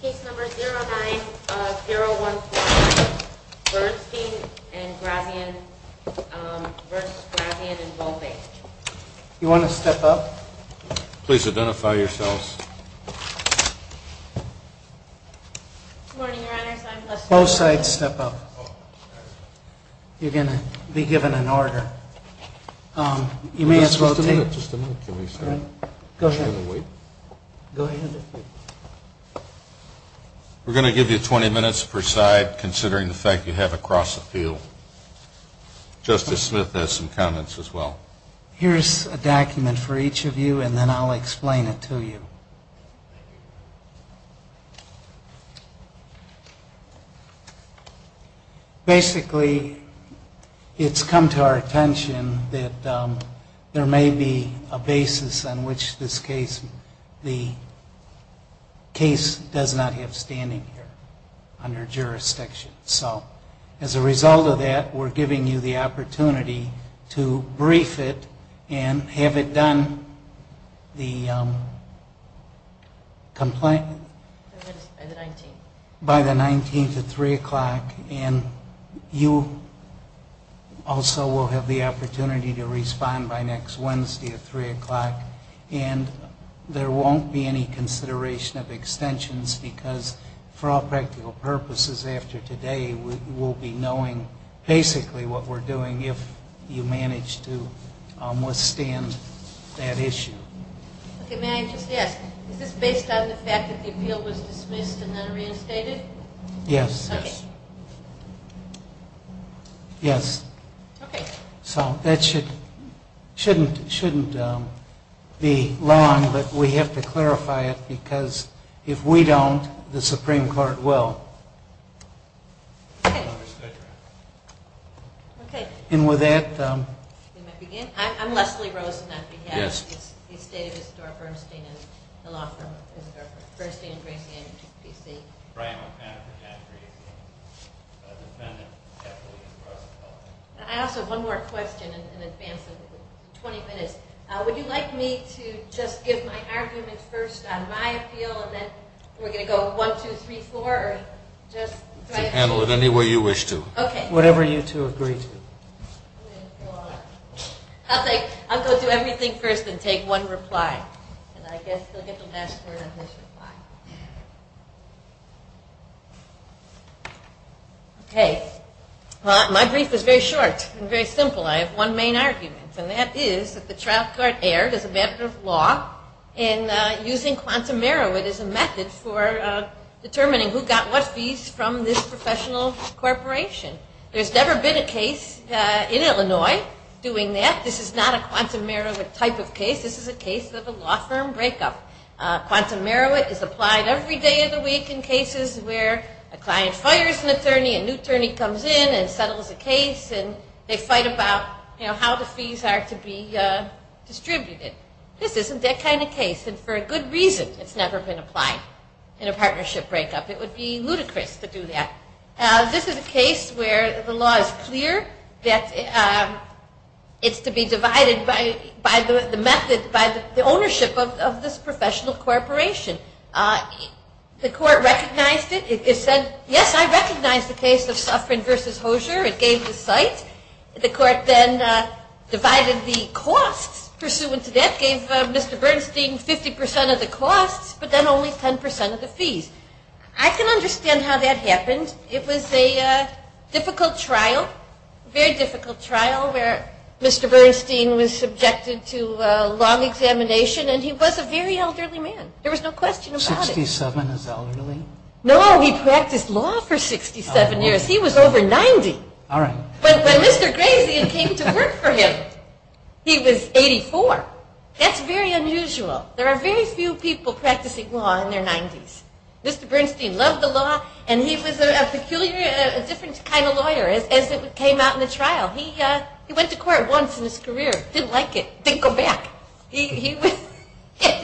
Case number 09-0149, Bernstein & Grazian v. Grazian & Volpe. You want to step up? Please identify yourselves. Both sides step up. You're going to be given an order. We're going to give you 20 minutes per side, considering the fact that you have a cross-appeal. Justice Smith has some comments as well. Here's a document for each of you, and then I'll explain it to you. Basically, it's come to our attention that there may be a basis on which this case, the case does not have standing here under jurisdiction. So as a result of that, we're giving you the opportunity to brief it and have it done by the 19th at 3 o'clock. And you also will have the opportunity to respond by next Wednesday at 3 o'clock. And there won't be any consideration of extensions, because for all practical purposes after today, we'll be knowing basically what we're doing if you manage to withstand that issue. Okay, may I just ask, is this based on the fact that the appeal was dismissed and then reinstated? Yes. Okay. Yes. Okay. So that shouldn't be long, but we have to clarify it, because if we don't, the Supreme Court will. Okay. Okay. And with that, we might begin. I'm Leslie Rosen. Yes. I'm on behalf of the State of Isidore Bernstein and the law firm of Isidore Bernstein and Grayson, D.C. I also have one more question in advance of 20 minutes. Would you like me to just give my argument first on my appeal, and then we're going to go one, two, three, four, or just try it? Handle it any way you wish to. Okay. Whatever you two agree to. I'll go do everything first and take one reply. And I guess he'll get the last word on this reply. Okay. Well, my brief is very short and very simple. I have one main argument, and that is that the trial court erred as a matter of law in using quantum Merowith as a method for determining who got what fees from this professional corporation. There's never been a case in Illinois doing that. This is not a quantum Merowith type of case. This is a case of a law firm breakup. Quantum Merowith is applied every day of the week in cases where a client hires an attorney, a new attorney comes in and settles a case, and they fight about, you know, how the fees are to be distributed. This isn't that kind of case, and for a good reason it's never been applied in a partnership breakup. It would be ludicrous to do that. This is a case where the law is clear that it's to be divided by the method, by the ownership of this professional corporation. The court recognized it. It said, yes, I recognize the case of Suffren v. Hosier. It gave the site. The court then divided the costs pursuant to that, gave Mr. Bernstein 50% of the costs, but then only 10% of the fees. I can understand how that happened. It was a difficult trial, very difficult trial, where Mr. Bernstein was subjected to a long examination, and he was a very elderly man. There was no question about it. Sixty-seven is elderly? No, he practiced law for 67 years. He was over 90. All right. But when Mr. Grazian came to work for him, he was 84. That's very unusual. There are very few people practicing law in their 90s. Mr. Bernstein loved the law, and he was a peculiar, different kind of lawyer as it came out in the trial. He went to court once in his career, didn't like it, didn't go back. It's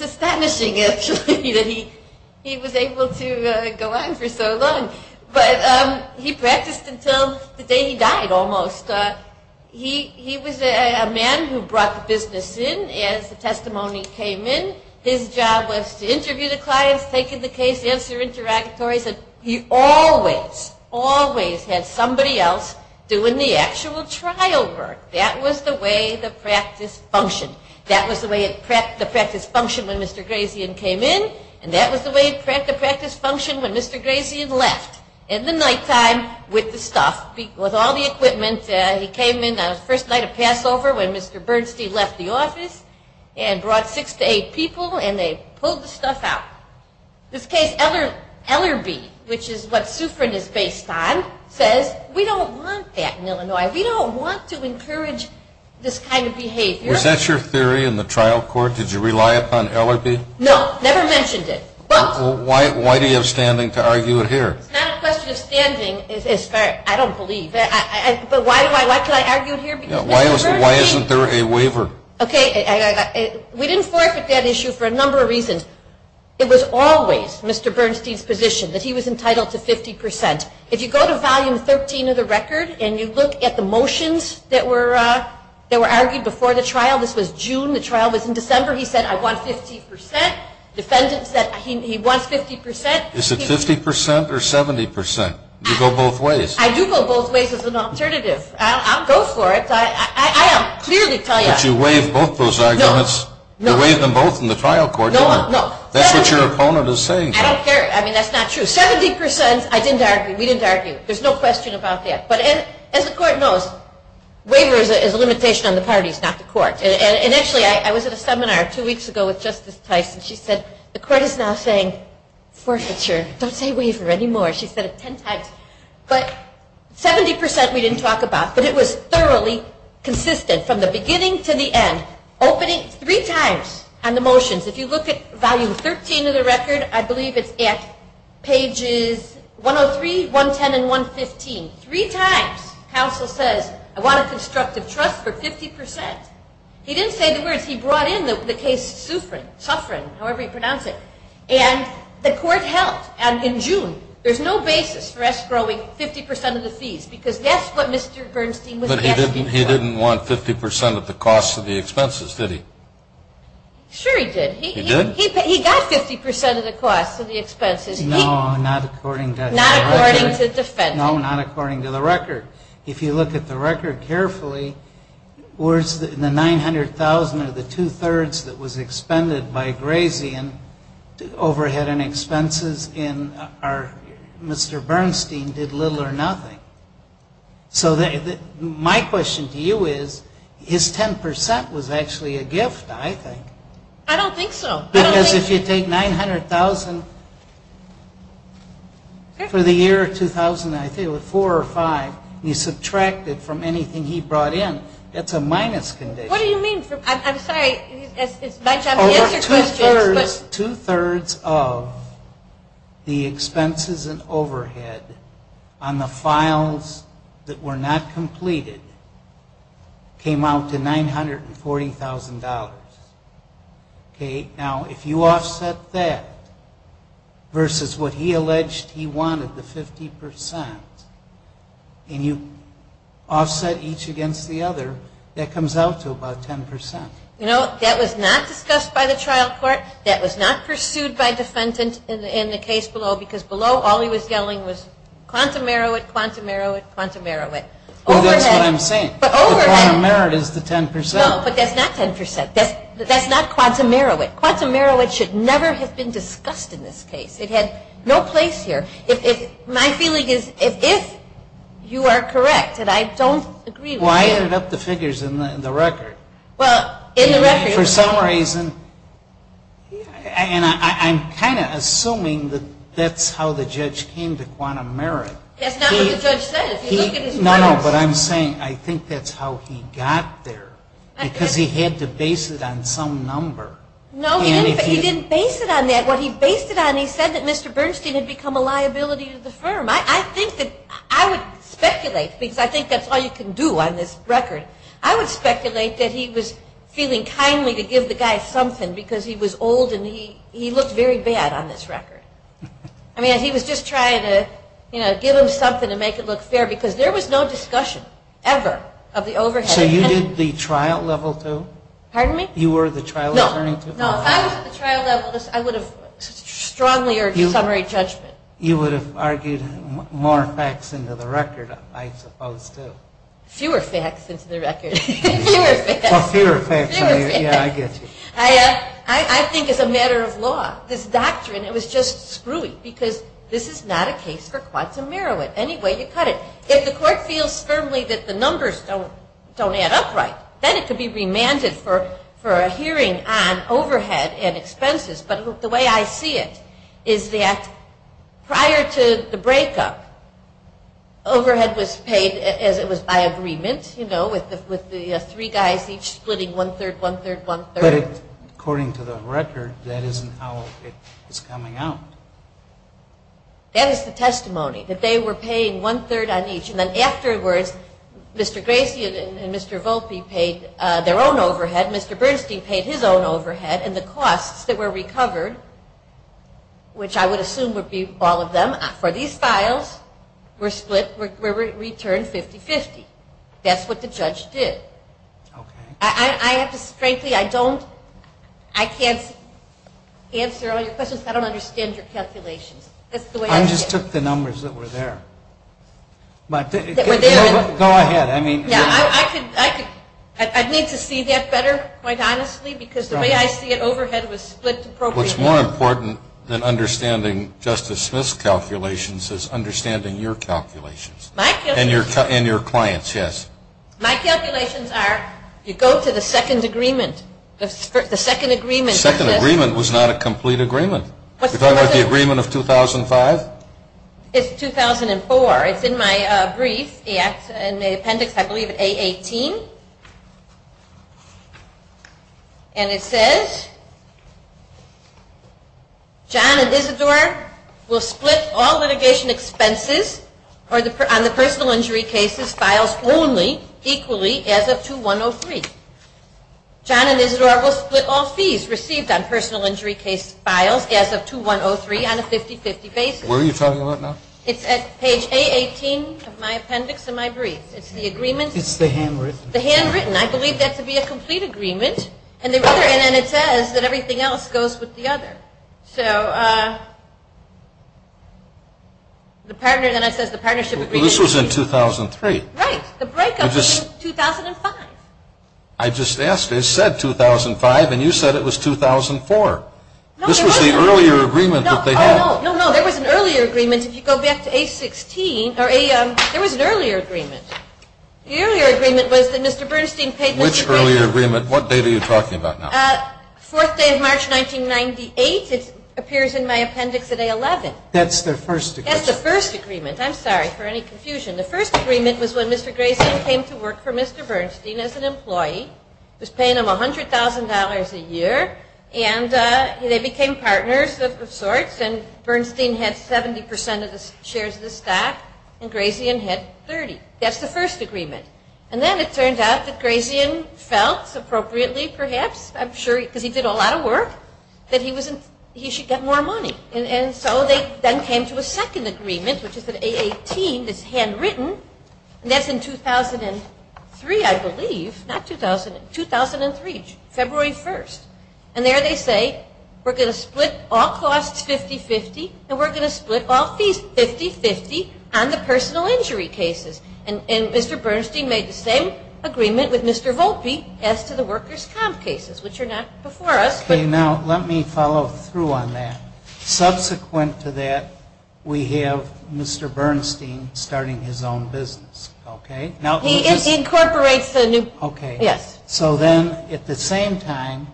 astonishing, actually, that he was able to go on for so long. But he practiced until the day he died almost. He was a man who brought the business in as the testimony came in. His job was to interview the clients, take in the case, answer interactory. He always, always had somebody else doing the actual trial work. That was the way the practice functioned. That was the way the practice functioned when Mr. Grazian came in, and that was the way the practice functioned when Mr. Grazian left. In the nighttime, with the stuff, with all the equipment, he came in on the first night of Passover when Mr. Bernstein left the office and brought six to eight people, and they pulled the stuff out. In this case, Ellerbee, which is what Sufrin is based on, says, we don't want that in Illinois. We don't want to encourage this kind of behavior. Was that your theory in the trial court? Did you rely upon Ellerbee? No, never mentioned it. Why do you have standing to argue it here? It's not a question of standing. I don't believe. But why can I argue it here? Why isn't there a waiver? Okay, we didn't forfeit that issue for a number of reasons. It was always Mr. Bernstein's position that he was entitled to 50%. If you go to volume 13 of the record and you look at the motions that were argued before the trial, this was June. The trial was in December. He said, I want 50%. Defendants said he wants 50%. Is it 50% or 70%? You go both ways. I do go both ways as an alternative. I'll go for it. But you waived both those arguments. You waived them both in the trial court, didn't you? No. That's what your opponent is saying. I don't care. I mean, that's not true. 70% I didn't argue. We didn't argue. There's no question about that. But as the court knows, waiver is a limitation on the parties, not the court. And actually, I was at a seminar two weeks ago with Justice Tyson. She said, the court is now saying forfeiture. Don't say waiver anymore. She said it 10 times. But 70% we didn't talk about. But it was thoroughly consistent from the beginning to the end, opening three times on the motions. If you look at volume 13 of the record, I believe it's at pages 103, 110, and 115. Three times, counsel says, I want a constructive trust for 50%. He didn't say the words. He brought in the case Suffren, however you pronounce it. And the court held in June, there's no basis for us growing 50% of the fees because that's what Mr. Bernstein was asking for. But he didn't want 50% of the cost of the expenses, did he? Sure he did. He did? He got 50% of the cost of the expenses. No, not according to the record. Not according to the defense. No, not according to the record. If you look at the record carefully, in the $900,000 of the two-thirds that was expended by Grazie and overhead and expenses, Mr. Bernstein did little or nothing. So my question to you is, his 10% was actually a gift, I think. I don't think so. Because if you take $900,000 for the year 2000, I think it was four or five, and you subtract it from anything he brought in, that's a minus condition. What do you mean? I'm sorry. Over two-thirds of the expenses and overhead on the files that were not completed came out to $940,000. Now, if you offset that versus what he alleged he wanted, the 50%, and you offset each against the other, that comes out to about 10%. You know, that was not discussed by the trial court. That was not pursued by defendant in the case below, because below all he was yelling was quantum merit, quantum merit, quantum merit. Oh, that's what I'm saying. But overhead. The quantum merit is the 10%. No, but that's not 10%. That's not quantum merit. Quantum merit should never have been discussed in this case. It had no place here. My feeling is if you are correct, and I don't agree with you. Well, I ended up the figures in the record. Well, in the record. For some reason, and I'm kind of assuming that that's how the judge came to quantum merit. That's not what the judge said. No, no, but I'm saying I think that's how he got there, because he had to base it on some number. No, he didn't base it on that. What he based it on, he said that Mr. Bernstein had become a liability to the firm. I think that I would speculate, because I think that's all you can do on this record. I would speculate that he was feeling kindly to give the guy something, because he was old and he looked very bad on this record. I mean, he was just trying to give him something to make it look fair, because there was no discussion ever of the overhead. So you did the trial level too? Pardon me? You were the trial attorney too? No. No, if I was at the trial level, I would have strongly urged summary judgment. You would have argued more facts into the record, I suppose, too. Fewer facts into the record. Fewer facts. Well, fewer facts, yeah, I get you. I think it's a matter of law. This doctrine, it was just screwy, because this is not a case for quantum merit. Any way you cut it. If the court feels firmly that the numbers don't add up right, then it could be remanded for a hearing on overhead and expenses. But the way I see it is that prior to the breakup, overhead was paid as it was by agreement, you know, with the three guys each splitting one-third, one-third, one-third. But according to the record, that isn't how it's coming out. That is the testimony, that they were paying one-third on each. And then afterwards, Mr. Gracian and Mr. Volpe paid their own overhead. Mr. Bernstein paid his own overhead. And the costs that were recovered, which I would assume would be all of them, for these files were split, were returned 50-50. That's what the judge did. Okay. I have to, frankly, I don't, I can't answer all your questions. I don't understand your calculations. I just took the numbers that were there. But go ahead. I mean. Yeah, I could, I need to see that better, quite honestly, because the way I see it, overhead was split appropriately. What's more important than understanding Justice Smith's calculations is understanding your calculations. My calculations. And your clients, yes. My calculations are you go to the second agreement, the second agreement. The second agreement was not a complete agreement. You're talking about the agreement of 2005? It's 2005. 2004. It's in my brief in the appendix, I believe, at A18. And it says, John and Isidore will split all litigation expenses on the personal injury cases files only equally as of 2103. John and Isidore will split all fees received on personal injury case files as of 2103 on a 50-50 basis. What are you talking about now? It's at page A18 of my appendix in my brief. It's the agreement. It's the handwritten. The handwritten. I believe that to be a complete agreement. And then it says that everything else goes with the other. So the partner, then it says the partnership agreement. This was in 2003. Right. The breakup was in 2005. I just asked. It said 2005, and you said it was 2004. This was the earlier agreement that they had. No, no. There was an earlier agreement. If you go back to A16, there was an earlier agreement. The earlier agreement was that Mr. Bernstein paid Mr. Grayson. Which earlier agreement? What date are you talking about now? Fourth day of March, 1998. It appears in my appendix at A11. That's the first agreement. That's the first agreement. I'm sorry for any confusion. The first agreement was when Mr. Grayson came to work for Mr. Bernstein as an employee, was paying him $100,000 a year, and they became partners of sorts, and Bernstein had 70% of the shares of the stock, and Grayson had 30. That's the first agreement. And then it turned out that Grayson felt, appropriately perhaps, I'm sure, because he did a lot of work, that he should get more money. And so they then came to a second agreement, which is at A18, that's handwritten, and that's in 2003, I believe. Not 2000. 2003. February 1st. And there they say, we're going to split all costs 50-50, and we're going to split all fees 50-50 on the personal injury cases. And Mr. Bernstein made the same agreement with Mr. Volpe as to the workers' comp cases, which are not before us. Okay. Now, let me follow through on that. Subsequent to that, we have Mr. Bernstein starting his own business, okay? He incorporates the new, yes. So then, at the same time,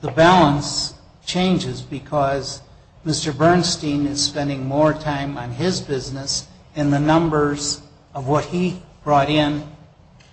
the balance changes because Mr. Bernstein is spending more time on his business, and the numbers of what he brought in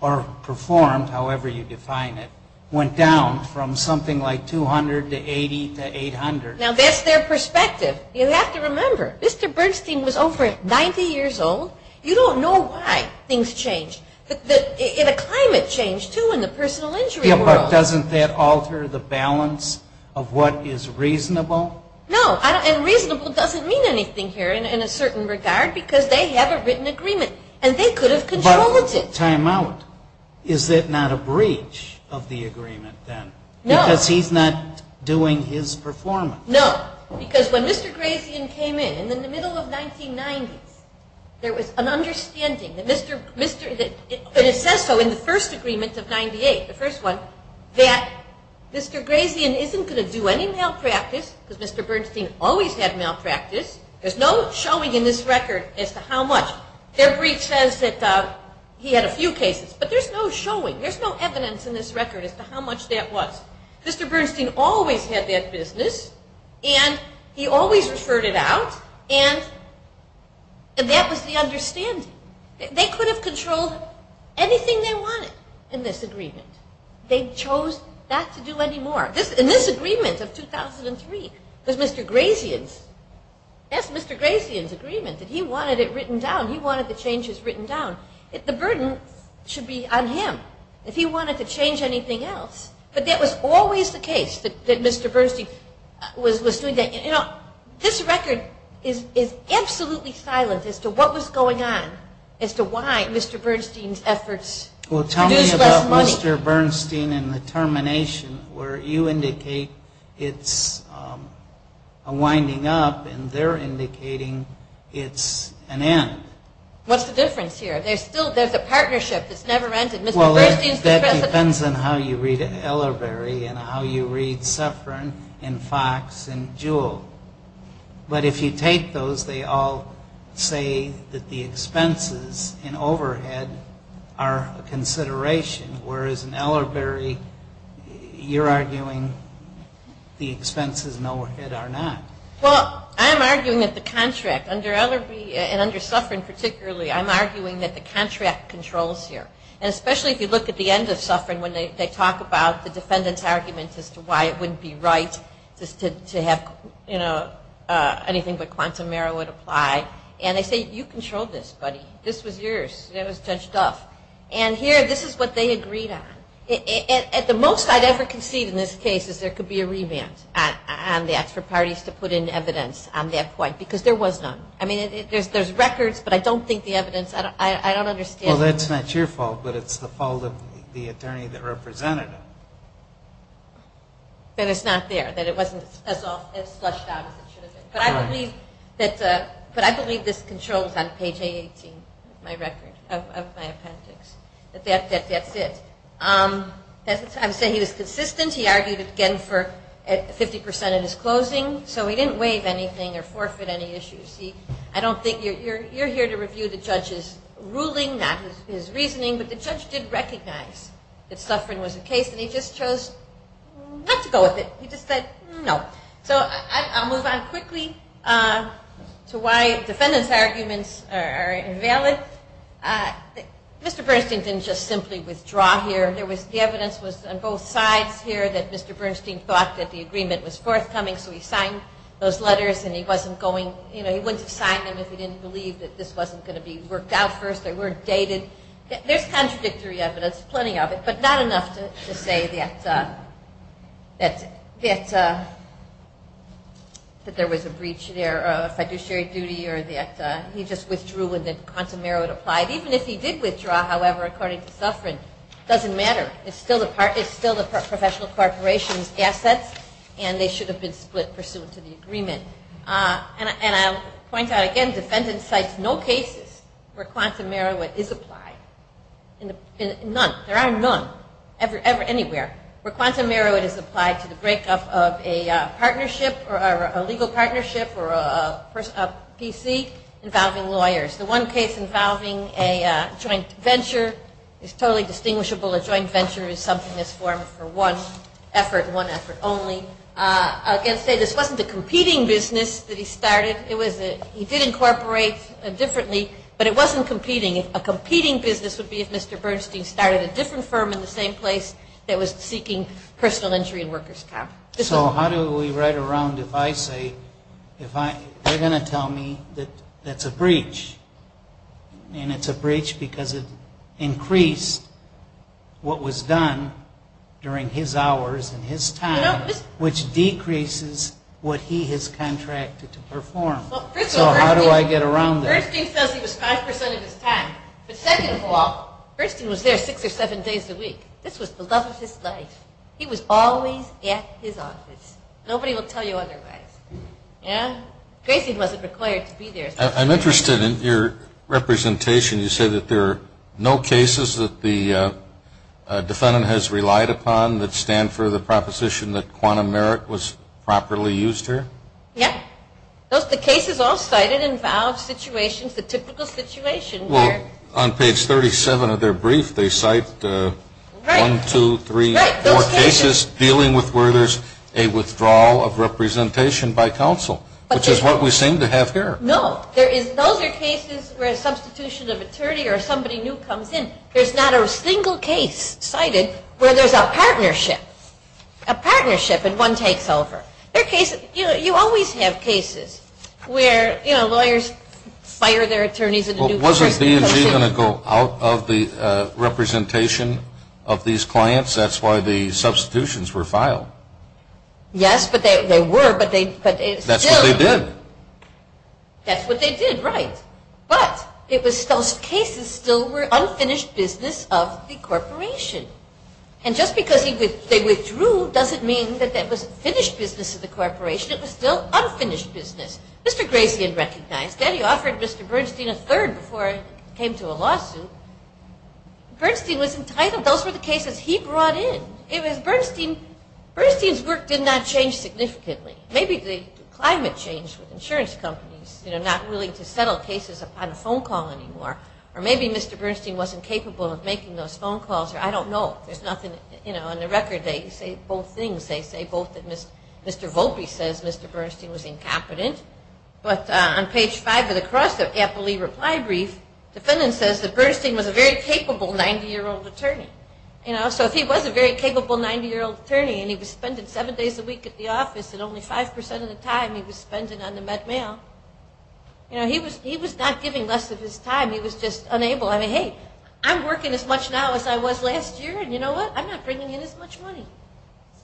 or performed, however you define it, went down from something like 200 to 80 to 800. Now, that's their perspective. You have to remember, Mr. Bernstein was over 90 years old. You don't know why things changed. The climate changed, too, in the personal injury world. But doesn't that alter the balance of what is reasonable? No. And reasonable doesn't mean anything here in a certain regard because they have a written agreement, and they could have controlled it. But timeout. Is it not a breach of the agreement then? No. Because he's not doing his performance. No. Because when Mr. Grazian came in, in the middle of 1990s, there was an understanding, and it says so in the first agreement of 1998, the first one, that Mr. Grazian isn't going to do any malpractice because Mr. Bernstein always had malpractice. There's no showing in this record as to how much. Their breach says that he had a few cases, but there's no showing. There's no evidence in this record as to how much that was. Mr. Bernstein always had that business, and he always referred it out, and that was the understanding. They could have controlled anything they wanted in this agreement. They chose not to do any more. In this agreement of 2003, it was Mr. Grazian's. That's Mr. Grazian's agreement, that he wanted it written down. He wanted the changes written down. The burden should be on him if he wanted to change anything else. But that was always the case, that Mr. Bernstein was doing that. This record is absolutely silent as to what was going on, as to why Mr. Bernstein's efforts produced less money. Well, tell me about Mr. Bernstein and the termination, where you indicate it's a winding up, and they're indicating it's an end. What's the difference here? There's a partnership that's never ended. Well, that depends on how you read Ellerberry and how you read Suffern and Fox and Jewell. But if you take those, they all say that the expenses and overhead are a consideration, whereas in Ellerberry, you're arguing the expenses and overhead are not. Well, I'm arguing that the contract under Ellerberry and under Suffern particularly, I'm arguing that the contract controls here. And especially if you look at the end of Suffern, when they talk about the defendant's arguments as to why it wouldn't be right to have anything but quantum error would apply. And they say, you controlled this, buddy. This was yours. It was Judge Duff. And here, this is what they agreed on. At the most I'd ever concede in this case is there could be a remand on that for parties to put in evidence on that point, because there was none. I mean, there's records, but I don't think the evidence, I don't understand. Well, that's not your fault, but it's the fault of the attorney that represented it. That it's not there, that it wasn't as slushed out as it should have been. But I believe this controls on page A18 of my appendix, that that's it. I would say he was consistent. He argued, again, for 50% of his closing. So he didn't waive anything or forfeit any issues. You're here to review the judge's ruling, not his reasoning. But the judge did recognize that suffering was the case, and he just chose not to go with it. He just said, no. So I'll move on quickly to why defendant's arguments are invalid. Mr. Bernstein didn't just simply withdraw here. The evidence was on both sides here that Mr. Bernstein thought that the agreement was forthcoming, so he signed those letters, and he wasn't going, you know, he wouldn't have signed them if he didn't believe that this wasn't going to be worked out first. They weren't dated. There's contradictory evidence, plenty of it, but not enough to say that there was a breach there, a fiduciary duty, or that he just withdrew and that quantum merit applied. Even if he did withdraw, however, according to Suffren, it doesn't matter. It's still the professional corporation's assets, and they should have been split pursuant to the agreement. And I'll point out again, defendant cites no cases where quantum merit is applied. None. There are none anywhere where quantum merit is applied to the breakup of a partnership or a legal partnership or a PC involving lawyers. The one case involving a joint venture is totally distinguishable. A joint venture is something that's formed for one effort, one effort only. I can say this wasn't a competing business that he started. He did incorporate differently, but it wasn't competing. A competing business would be if Mr. Bernstein started a different firm in the same place that was seeking personal injury and workers' comp. So how do we write around if I say, they're going to tell me that that's a breach, and it's a breach because it increased what was done during his hours and his time, which decreases what he has contracted to perform. So how do I get around this? Bernstein says he was 5% of his time. But second of all, Bernstein was there six or seven days a week. This was the love of his life. He was always at his office. Nobody will tell you otherwise. And Grayson wasn't required to be there. I'm interested in your representation. You say that there are no cases that the defendant has relied upon that stand for the proposition that quantum merit was properly used here? Yes. The cases all cited involve situations, the typical situation. Well, on page 37 of their brief, they cite one, two, three, four cases dealing with where there's a withdrawal of representation by counsel, which is what we seem to have here. No. Those are cases where a substitution of attorney or somebody new comes in. There's not a single case cited where there's a partnership, a partnership and one takes over. You always have cases where, you know, lawyers fire their attorneys and a new person comes in. Well, wasn't D&G going to go out of the representation of these clients? That's why the substitutions were filed. Yes, but they were. That's what they did. That's what they did, right. But those cases still were unfinished business of the corporation. And just because they withdrew doesn't mean that it was finished business of the corporation. It was still unfinished business. Mr. Grazian recognized that. He offered Mr. Bernstein a third before it came to a lawsuit. Bernstein was entitled. Those were the cases he brought in. Bernstein's work did not change significantly. Maybe the climate changed with insurance companies, you know, not willing to settle cases upon a phone call anymore. Or maybe Mr. Bernstein wasn't capable of making those phone calls. I don't know. There's nothing, you know, on the record they say both things. They say both that Mr. Volpe says Mr. Bernstein was incompetent. But on page five of the APLE reply brief, the defendant says that Bernstein was a very capable 90-year-old attorney. You know, so if he was a very capable 90-year-old attorney and he was spending seven days a week at the office and only 5% of the time he was spending on the Met Mail, you know, he was not giving less of his time. He was just unable. I mean, hey, I'm working as much now as I was last year, and you know what? I'm not bringing in as much money.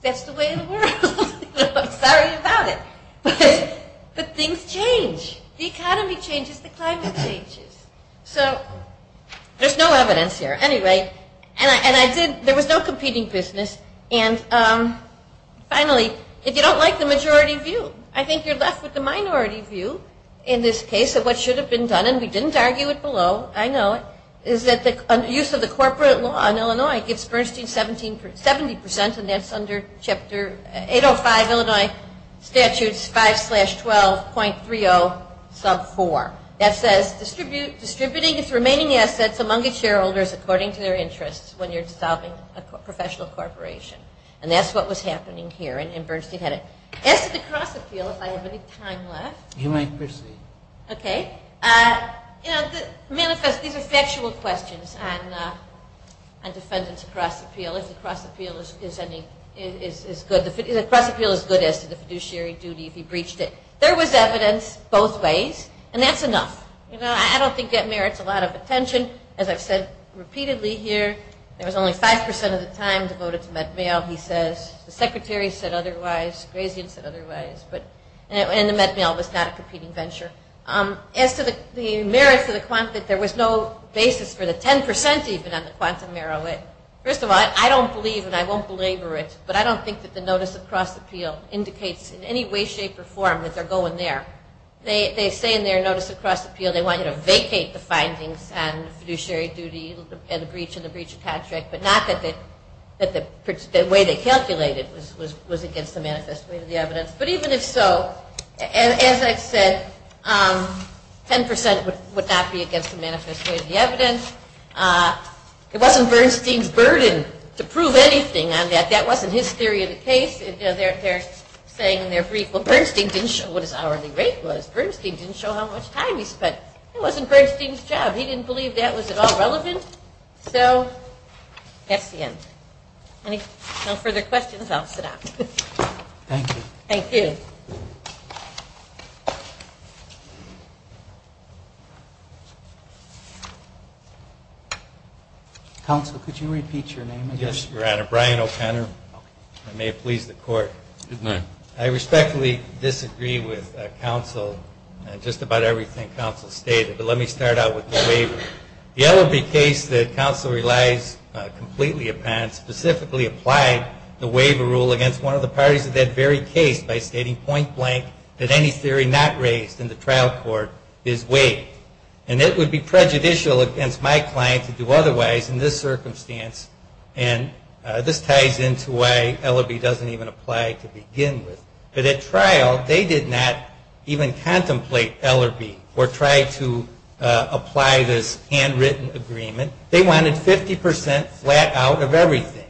That's the way of the world. I'm sorry about it. But things change. The economy changes. The climate changes. So there's no evidence here. Anyway, and I did, there was no competing business, and finally, if you don't like the majority view, I think you're left with the minority view in this case of what should have been done, and we didn't argue it below, I know, is that the use of the corporate law in Illinois gives Bernstein 70%, and that's under Chapter 805, Illinois Statutes 5-12.30 sub 4. That says distributing its remaining assets among its shareholders according to their interests when you're dissolving a professional corporation, and that's what was happening here, and Bernstein had it. As to the cross appeal, if I have any time left. You may proceed. Okay. You know, the manifest, these are factual questions on defendants' cross appeal, if the cross appeal is good as to the fiduciary duty if he breached it. There was evidence both ways, and that's enough. You know, I don't think that merits a lot of attention. As I've said repeatedly here, there was only 5% of the time devoted to MedMail, he says. The secretary said otherwise. Grazian said otherwise, but, and the MedMail was not a competing venture. As to the merits of the, there was no basis for the 10% even on the quantum narrow it. First of all, I don't believe, and I won't belabor it, but I don't think that the notice of cross appeal indicates in any way, shape, or form that they're going there. They say in their notice of cross appeal they want you to vacate the findings on fiduciary duty and the breach of contract, but not that the way they calculated was against the manifest way of the evidence. But even if so, as I've said, 10% would not be against the manifest way of the evidence. It wasn't Bernstein's burden to prove anything on that. That wasn't his theory of the case. They're saying in their brief, well, Bernstein didn't show what his hourly rate was. Bernstein didn't show how much time he spent. That wasn't Bernstein's job. He didn't believe that was at all relevant. So that's the end. Any further questions, I'll sit down. Thank you. Thank you. Counsel, could you repeat your name again? Yes, Your Honor. Brian O'Connor. I may have pleased the Court. Good night. I respectfully disagree with counsel on just about everything counsel stated, but let me start out with the waiver. The LLB case that counsel relies completely upon specifically applied the waiver rule against one of the parties of that very case by stating point blank that any theory not raised in the trial court is waived. And it would be prejudicial against my client to do otherwise in this circumstance, and this ties into why LLB doesn't even apply to begin with. But at trial, they did not even contemplate LLB or try to apply this handwritten agreement. They wanted 50% flat out of everything.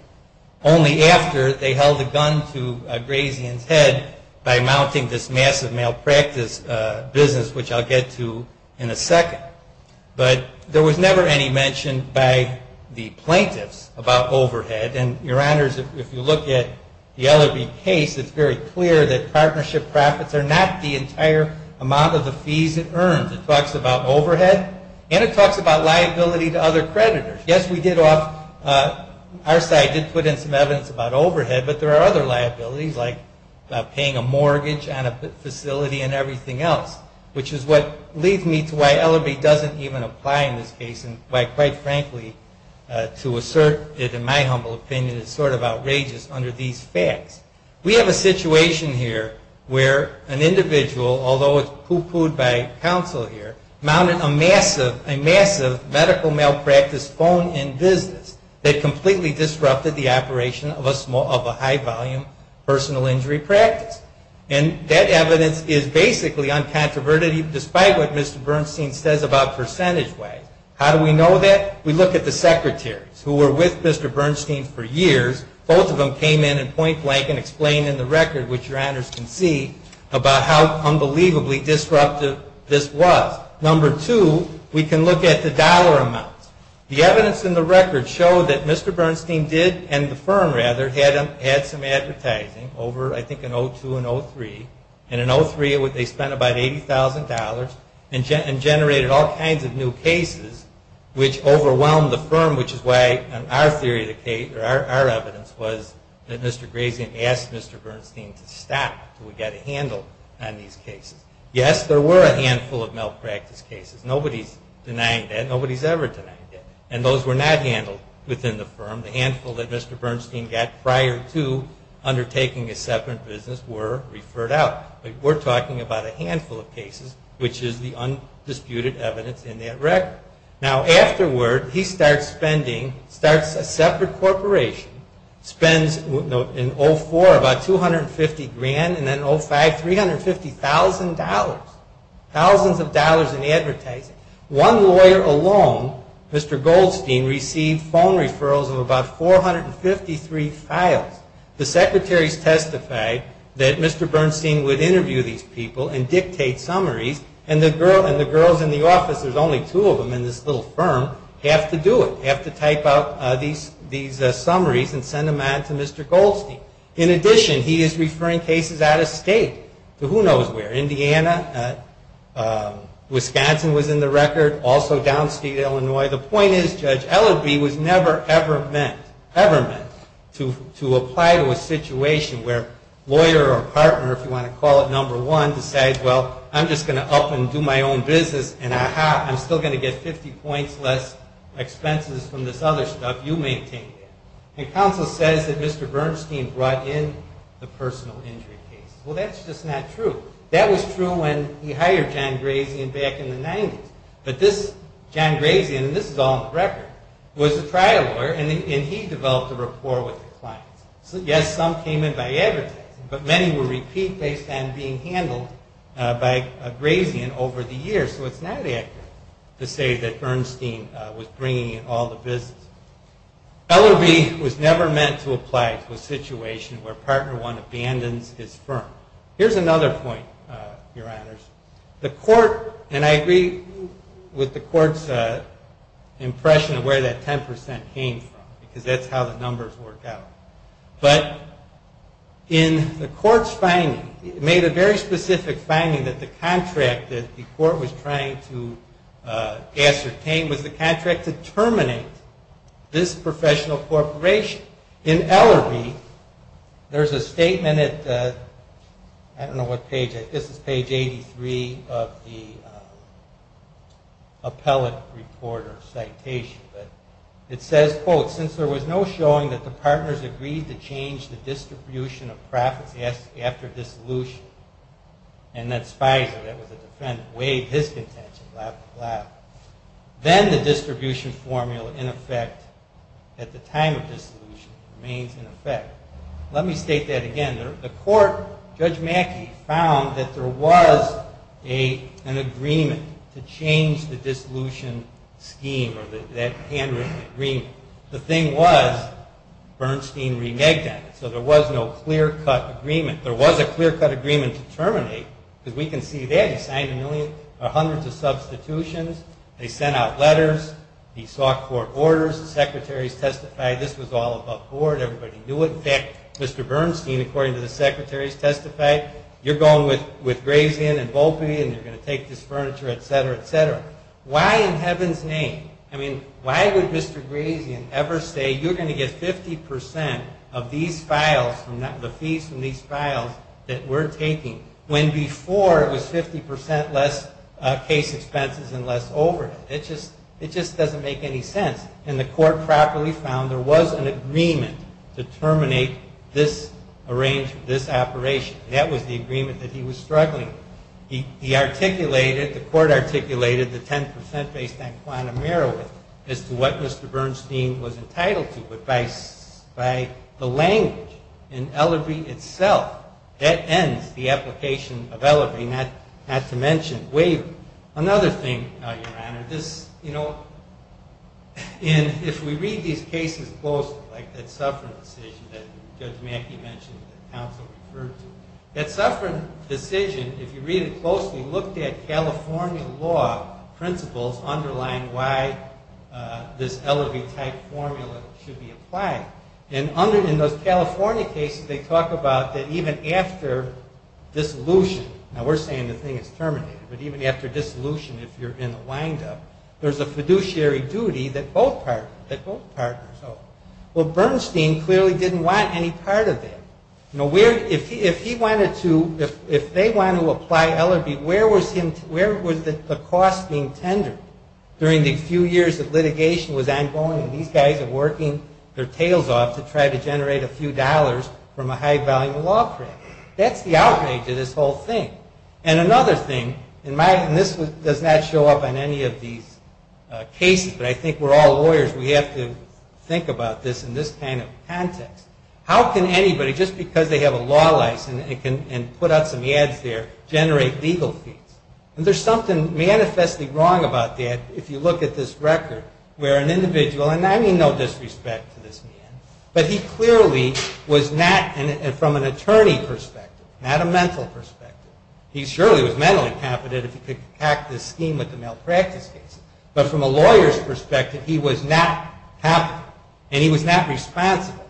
Only after they held a gun to Grazian's head by mounting this massive malpractice business, which I'll get to in a second. But there was never any mention by the plaintiffs about overhead. And, Your Honors, if you look at the LLB case, it's very clear that partnership profits are not the entire amount of the fees it earns. It talks about overhead, and it talks about liability to other creditors. Yes, we did off our side did put in some evidence about overhead, but there are other liabilities like paying a mortgage on a facility and everything else, which is what leads me to why LLB doesn't even apply in this case. And why, quite frankly, to assert it in my humble opinion, it's sort of outrageous under these facts. We have a situation here where an individual, although it's poo-pooed by counsel here, mounted a massive medical malpractice phone-in business that completely disrupted the operation of a high-volume personal injury practice. And that evidence is basically uncontroverted, despite what Mr. Bernstein says about percentage ways. How do we know that? We look at the secretaries who were with Mr. Bernstein for years. Both of them came in and point blank and explained in the record, which Your Honors can see, about how unbelievably disruptive this was. Number two, we can look at the dollar amounts. The evidence in the record showed that Mr. Bernstein did, and the firm rather, had some advertising over, I think, in 0-2 and 0-3. And in 0-3, they spent about $80,000 and generated all kinds of new cases, which overwhelmed the firm, which is why, in our theory, our evidence was that Mr. Grazian asked Mr. Bernstein to stop, to get a handle on these cases. Yes, there were a handful of malpractice cases. Nobody's denying that. Nobody's ever denied that. And those were not handled within the firm. The handful that Mr. Bernstein got prior to undertaking a separate business were referred out. But we're talking about a handful of cases, which is the undisputed evidence in that record. Now, afterward, he starts spending, starts a separate corporation, spends in 0-4 about $250,000, and then 0-5, $350,000. Thousands of dollars in advertising. One lawyer alone, Mr. Goldstein, received phone referrals of about 453 files. The secretaries testified that Mr. Bernstein would interview these people and dictate summaries. And the girls in the office, there's only two of them in this little firm, have to do it, have to type out these summaries and send them on to Mr. Goldstein. In addition, he is referring cases out of state to who knows where. Indiana, Wisconsin was in the record, also downstate Illinois. The point is, Judge Ellerbee was never, ever meant, ever meant to apply to a situation where a lawyer or a partner, if you want to call it number one, decides, well, I'm just going to up and do my own business, and ah-ha, I'm still going to get 50 points less expenses from this other stuff. You maintain that. And counsel says that Mr. Bernstein brought in the personal injury case. Well, that's just not true. That was true when he hired John Grazian back in the 90s. But this John Grazian, and this is all in the record, was a trial lawyer, and he developed a rapport with the clients. Yes, some came in by advertising, but many were repeat based on being handled by Grazian over the years. So it's not accurate to say that Bernstein was bringing in all the business. Ellerbee was never meant to apply to a situation where partner one abandons its firm. Here's another point, Your Honors. The court, and I agree with the court's impression of where that 10% came from, because that's how the numbers worked out. But in the court's finding, it made a very specific finding that the contract that the court was trying to ascertain was the professional corporation. In Ellerbee, there's a statement at, I don't know what page, I guess it's page 83 of the appellate report or citation. But it says, quote, since there was no showing that the partners agreed to change the distribution of profits after dissolution, and that Spicer, that was a defendant, waived his contention, blah, blah, blah. Then the distribution formula in effect at the time of dissolution remains in effect. Let me state that again. The court, Judge Mackey, found that there was an agreement to change the dissolution scheme or that handwritten agreement. The thing was Bernstein reneged on it. So there was no clear-cut agreement. There was a clear-cut agreement to terminate, because we can see that. He signed a million or hundreds of substitutions. They sent out letters. He sought court orders. The secretaries testified. This was all above board. Everybody knew it. In fact, Mr. Bernstein, according to the secretaries testified, you're going with Grazian and Volpe, and you're going to take this furniture, et cetera, et cetera. Why in heaven's name? I mean, why would Mr. Grazian ever say you're going to get 50% of these files, the fees from these files, that we're taking, when before it was 50% less case expenses and less overhead? It just doesn't make any sense. And the court properly found there was an agreement to terminate this arrangement, this operation. That was the agreement that he was struggling. He articulated, the court articulated, the 10% based on quantum merit as to what Mr. Bernstein was entitled to. But by the language in Ellerbee itself, that ends the application of Ellerbee, not to mention Waver. Another thing, Your Honor, this, you know, if we read these cases closely, like that Suffren decision that Judge Mackey mentioned that counsel referred to, that Suffren decision, if you read it closely, looked at California law principles underlying why this Ellerbee type formula should be applied. And in those California cases, they talk about that even after dissolution, now we're saying the thing is terminated, but even after dissolution, if you're in the windup, there's a fiduciary duty that both partners owe. Well, Bernstein clearly didn't want any part of that. You know, if he wanted to, if they wanted to apply Ellerbee, where was the cost being tendered? During the few years that litigation was ongoing, these guys are working their tails off to try to generate a few dollars from a high-value law firm. That's the outrage of this whole thing. And another thing, and this does not show up on any of these cases, but I think we're all lawyers, we have to think about this in this kind of context. How can anybody, just because they have a law license and can put out some ads there, generate legal fees? And there's something manifestly wrong about that if you look at this record where an individual, and I mean no disrespect to this man, but he clearly was not, from an attorney perspective, not a mental perspective, he surely was mentally competent if he could hack this scheme with the malpractice case, but from a lawyer's perspective, he was not competent and he was not responsible.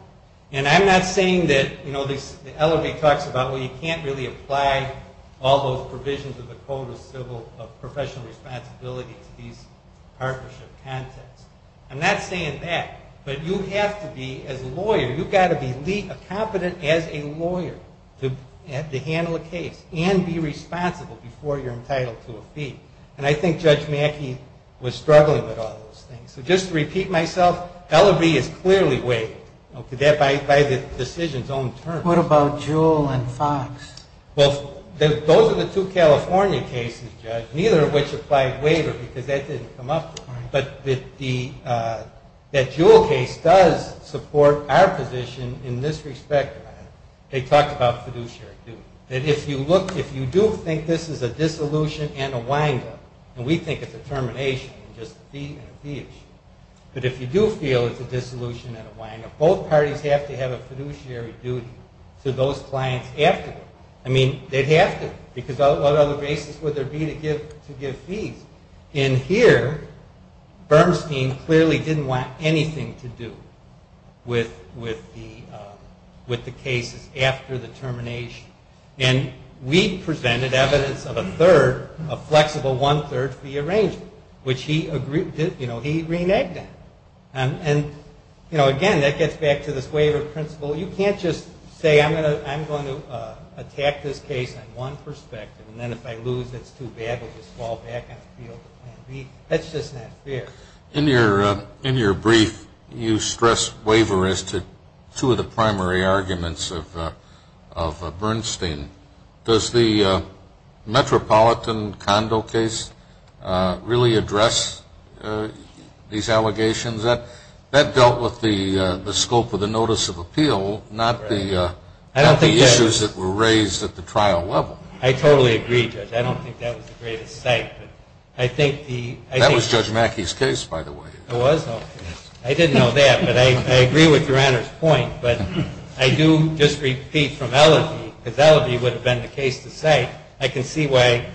And I'm not saying that, you know, Ellerbee talks about, well, you can't really apply all those provisions of the Code of Professional Responsibility to these partnership contexts. I'm not saying that. But you have to be, as a lawyer, you've got to be competent as a lawyer to handle a case and be responsible before you're entitled to a fee. And I think Judge Mackey was struggling with all those things. So just to repeat myself, Ellerbee is clearly waiving that by the decision's own terms. What about Jewell and Fox? Well, those are the two California cases, Judge, neither of which applied waiver because that didn't come up. But that Jewell case does support our position in this respect. They talked about fiduciary duty. If you do think this is a dissolution and a wind-up, and we think it's a termination and just a fee issue, but if you do feel it's a dissolution and a wind-up, both parties have to have a fiduciary duty to those clients after that. I mean, they'd have to because what other basis would there be to give fees? And here, Bernstein clearly didn't want anything to do with the cases after the termination. And we presented evidence of a third, a flexible one-third fee arrangement, which he reneged on. And, you know, again, that gets back to this waiver principle. You can't just say I'm going to attack this case on one perspective and then if I lose it's too bad, I'll just fall back on appeal to Plan B. That's just not fair. In your brief, you stress waiver as to two of the primary arguments of Bernstein. Does the Metropolitan Condo case really address these allegations? That dealt with the scope of the notice of appeal, not the issues that were raised at the trial level. I totally agree, Judge. I don't think that was the greatest cite, but I think the ‑‑ That was Judge Mackey's case, by the way. It was? I didn't know that, but I agree with your Honor's point. But I do just repeat from LRB, because LRB would have been the case to cite, I can see why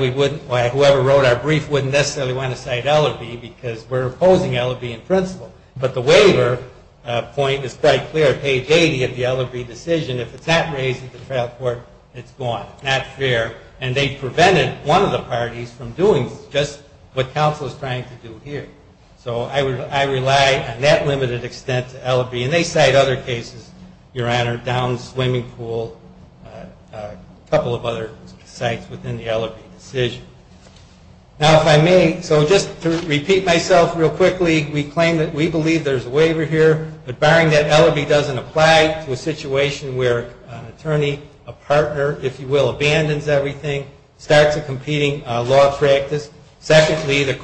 we wouldn't, why whoever wrote our brief wouldn't necessarily want to cite LRB because we're opposing LRB in principle. But the waiver point is quite clear. Page 80 of the LRB decision, if it's not raised at the trial court, it's gone. Not fair. And they prevented one of the parties from doing just what counsel is trying to do here. So I rely on that limited extent to LRB, and they cite other cases, Your Honor, down the swimming pool, a couple of other sites within the LRB decision. Now, if I may, so just to repeat myself real quickly, we claim that we believe there's a waiver here, but barring that, LRB doesn't apply to a situation where an attorney, a partner, if you will, abandons everything, starts a competing law practice. Secondly, the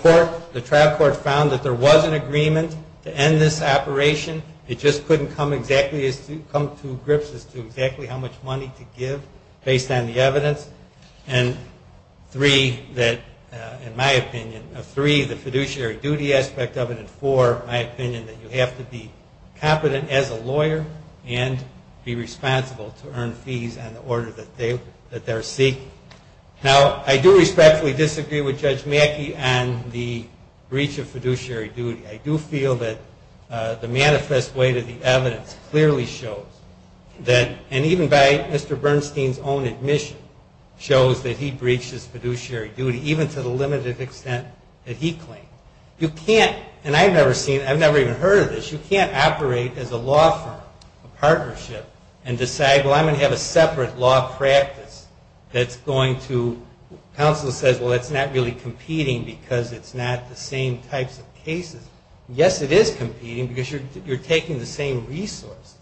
trial court found that there was an agreement to end this operation. It just couldn't come to grips as to exactly how much money to give based on the evidence. And three, in my opinion, three, the fiduciary duty aspect of it, and four, my opinion that you have to be competent as a lawyer and be responsible to earn fees on the order that they're seeking. Now, I do respectfully disagree with Judge Mackey on the breach of fiduciary duty. I do feel that the manifest weight of the evidence clearly shows that, and even by Mr. Bernstein's own admission, shows that he breached his fiduciary duty, even to the limited extent that he claimed. You can't, and I've never seen, I've never even heard of this, you can't operate as a law firm, a partnership, and decide, well, I'm going to have a separate law practice that's going to, counsel says, well, it's not really competing because it's not the same types of cases. Yes, it is competing because you're taking the same resources.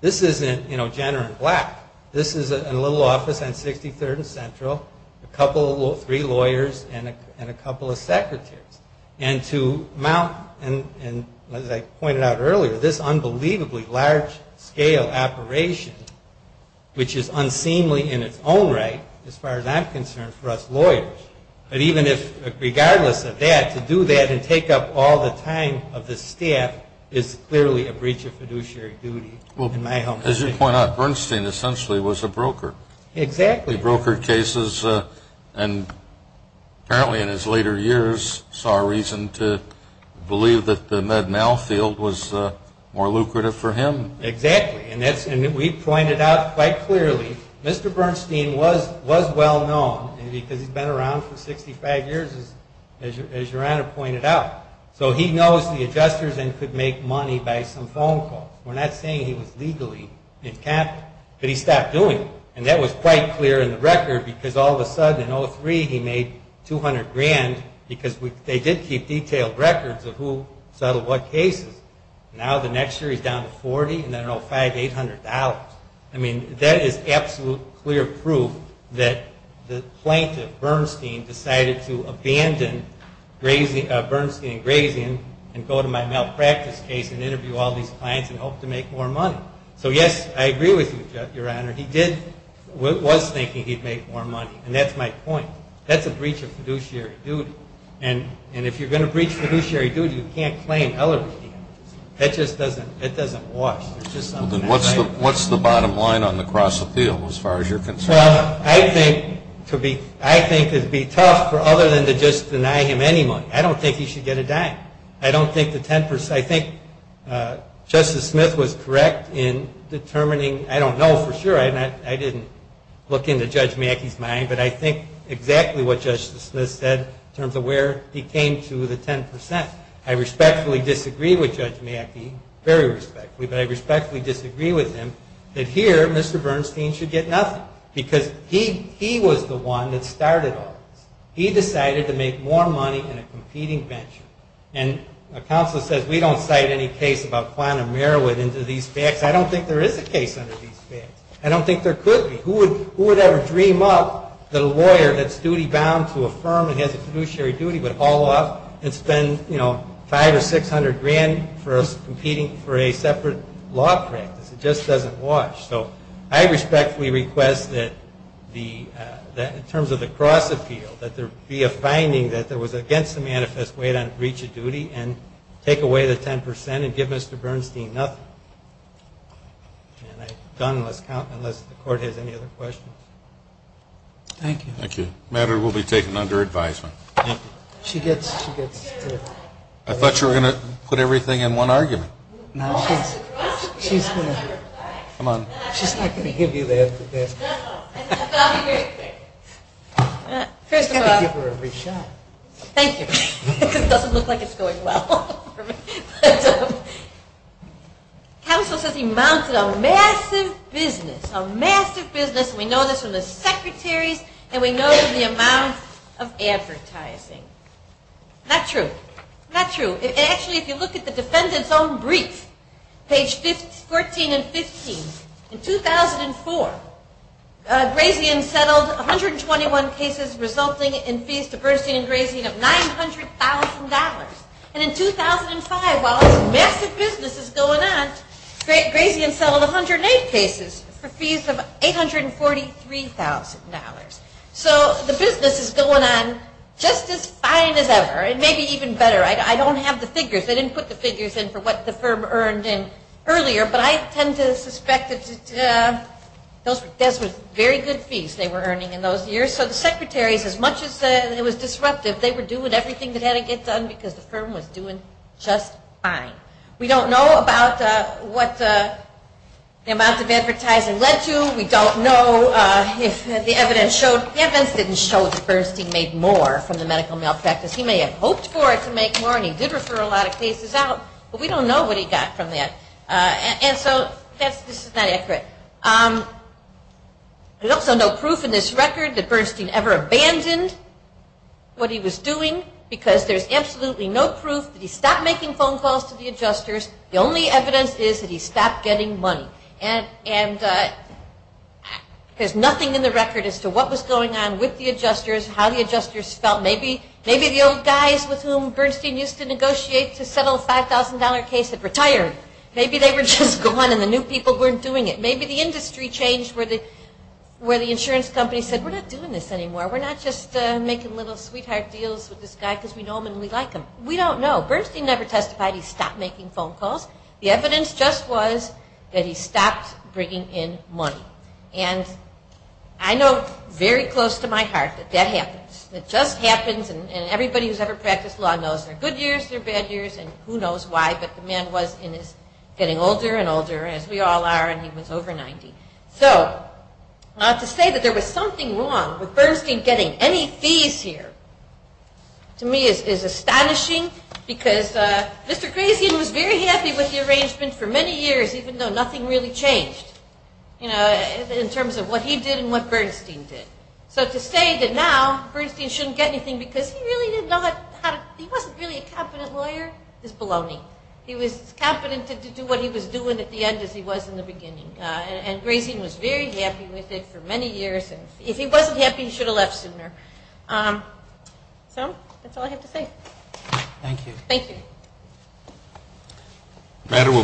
This isn't, you know, Jenner and Black. This is a little office on 63rd and Central, a couple, three lawyers and a couple of secretaries. And to mount, and as I pointed out earlier, this unbelievably large-scale operation, which is unseemly in its own right, as far as I'm concerned, for us lawyers. But even if, regardless of that, to do that and take up all the time of the staff is clearly a breach of fiduciary duty. Well, as you point out, Bernstein essentially was a broker. Exactly. He brokered cases and apparently in his later years saw a reason to believe that the Med-Mal field was more lucrative for him. Exactly. And we pointed out quite clearly, Mr. Bernstein was well-known because he's been around for 65 years, as your Honor pointed out. So he knows the adjusters and could make money by some phone calls. We're not saying he was legally encamped, but he stopped doing it. And that was quite clear in the record because all of a sudden in 03 he made 200 grand because they did keep detailed records of who settled what cases. Now the next year he's down to 40 and then, oh, $500, $800. I mean, that is absolute clear proof that the plaintiff, Bernstein, decided to abandon Bernstein & Grazian and go to my malpractice case and interview all these clients and hope to make more money. So, yes, I agree with you, your Honor. He was thinking he'd make more money, and that's my point. That's a breach of fiduciary duty. And if you're going to breach fiduciary duty, you can't claim other details. That just doesn't wash. What's the bottom line on the cross-appeal as far as you're concerned? Well, I think it would be tough for other than to just deny him any money. I don't think he should get a dime. I think Justice Smith was correct in determining, I don't know for sure, I didn't look into Judge Mackey's mind, but I think exactly what Justice Smith said in terms of the where he came to the 10%. I respectfully disagree with Judge Mackey, very respectfully, but I respectfully disagree with him that here Mr. Bernstein should get nothing. Because he was the one that started all this. He decided to make more money in a competing venture. And a counsel says, we don't cite any case about Kwan and Merrowith into these facts. I don't think there is a case under these facts. I don't think there could be. Who would ever dream up that a lawyer that's duty-bound to a firm and has a fiduciary duty would haul off and spend, you know, five or six hundred grand for us competing for a separate law practice? It just doesn't wash. So I respectfully request that in terms of the cross-appeal, that there be a finding that there was against the manifest weight on breach of duty and take away the 10% and give Mr. Bernstein nothing. And I'm done unless the court has any other questions. Thank you. Thank you. The matter will be taken under advisement. She gets to... I thought you were going to put everything in one argument. No, she's going to... Come on. She's not going to give you the answer to that. First of all, thank you. It doesn't look like it's going well. Counsel says he mounted a massive business, a massive business. And we know this from the secretaries, and we know this from the amount of advertising. Not true. Not true. Actually, if you look at the defendant's own brief, page 14 and 15, in 2004, Grazian settled 121 cases resulting in fees to Bernstein and Grazian of $900,000. And in 2005, while this massive business is going on, Grazian settled 108 cases for fees of $843,000. So the business is going on just as fine as ever and maybe even better. I don't have the figures. They didn't put the figures in for what the firm earned earlier, but I tend to suspect that those were very good fees they were earning in those years. So the secretaries, as much as it was disruptive, they were doing everything they had to get done because the firm was doing just fine. We don't know about what the amount of advertising led to. We don't know if the evidence showed. The evidence didn't show that Bernstein made more from the medical malpractice. He may have hoped for it to make more, and he did refer a lot of cases out, but we don't know what he got from that. And so this is not accurate. There's also no proof in this record that Bernstein ever abandoned what he was doing because there's absolutely no proof that he stopped making phone calls to the adjusters. The only evidence is that he stopped getting money. And there's nothing in the record as to what was going on with the adjusters, how the adjusters felt. Maybe the old guys with whom Bernstein used to negotiate to settle a $5,000 case had retired. Maybe they were just gone and the new people weren't doing it. Maybe the industry changed where the insurance company said, we're not doing this anymore. We're not just making little sweetheart deals with this guy because we know him and we like him. We don't know. Bernstein never testified he stopped making phone calls. The evidence just was that he stopped bringing in money. And I know very close to my heart that that happens. It just happens, and everybody who's ever practiced law knows there are good years, there are bad years, and who knows why, but the man was getting older and older, as we all are, and he was over 90. So to say that there was something wrong with Bernstein getting any fees here to me is astonishing because Mr. Grazian was very happy with the arrangement for many years, even though nothing really changed, you know, in terms of what he did and what Bernstein did. So to say that now Bernstein shouldn't get anything because he really didn't know how to, he wasn't really a competent lawyer is baloney. He was as competent to do what he was doing at the end as he was in the beginning, and Grazian was very happy with it for many years, and if he wasn't happy, he should have left sooner. So that's all I have to say. Thank you. Thank you.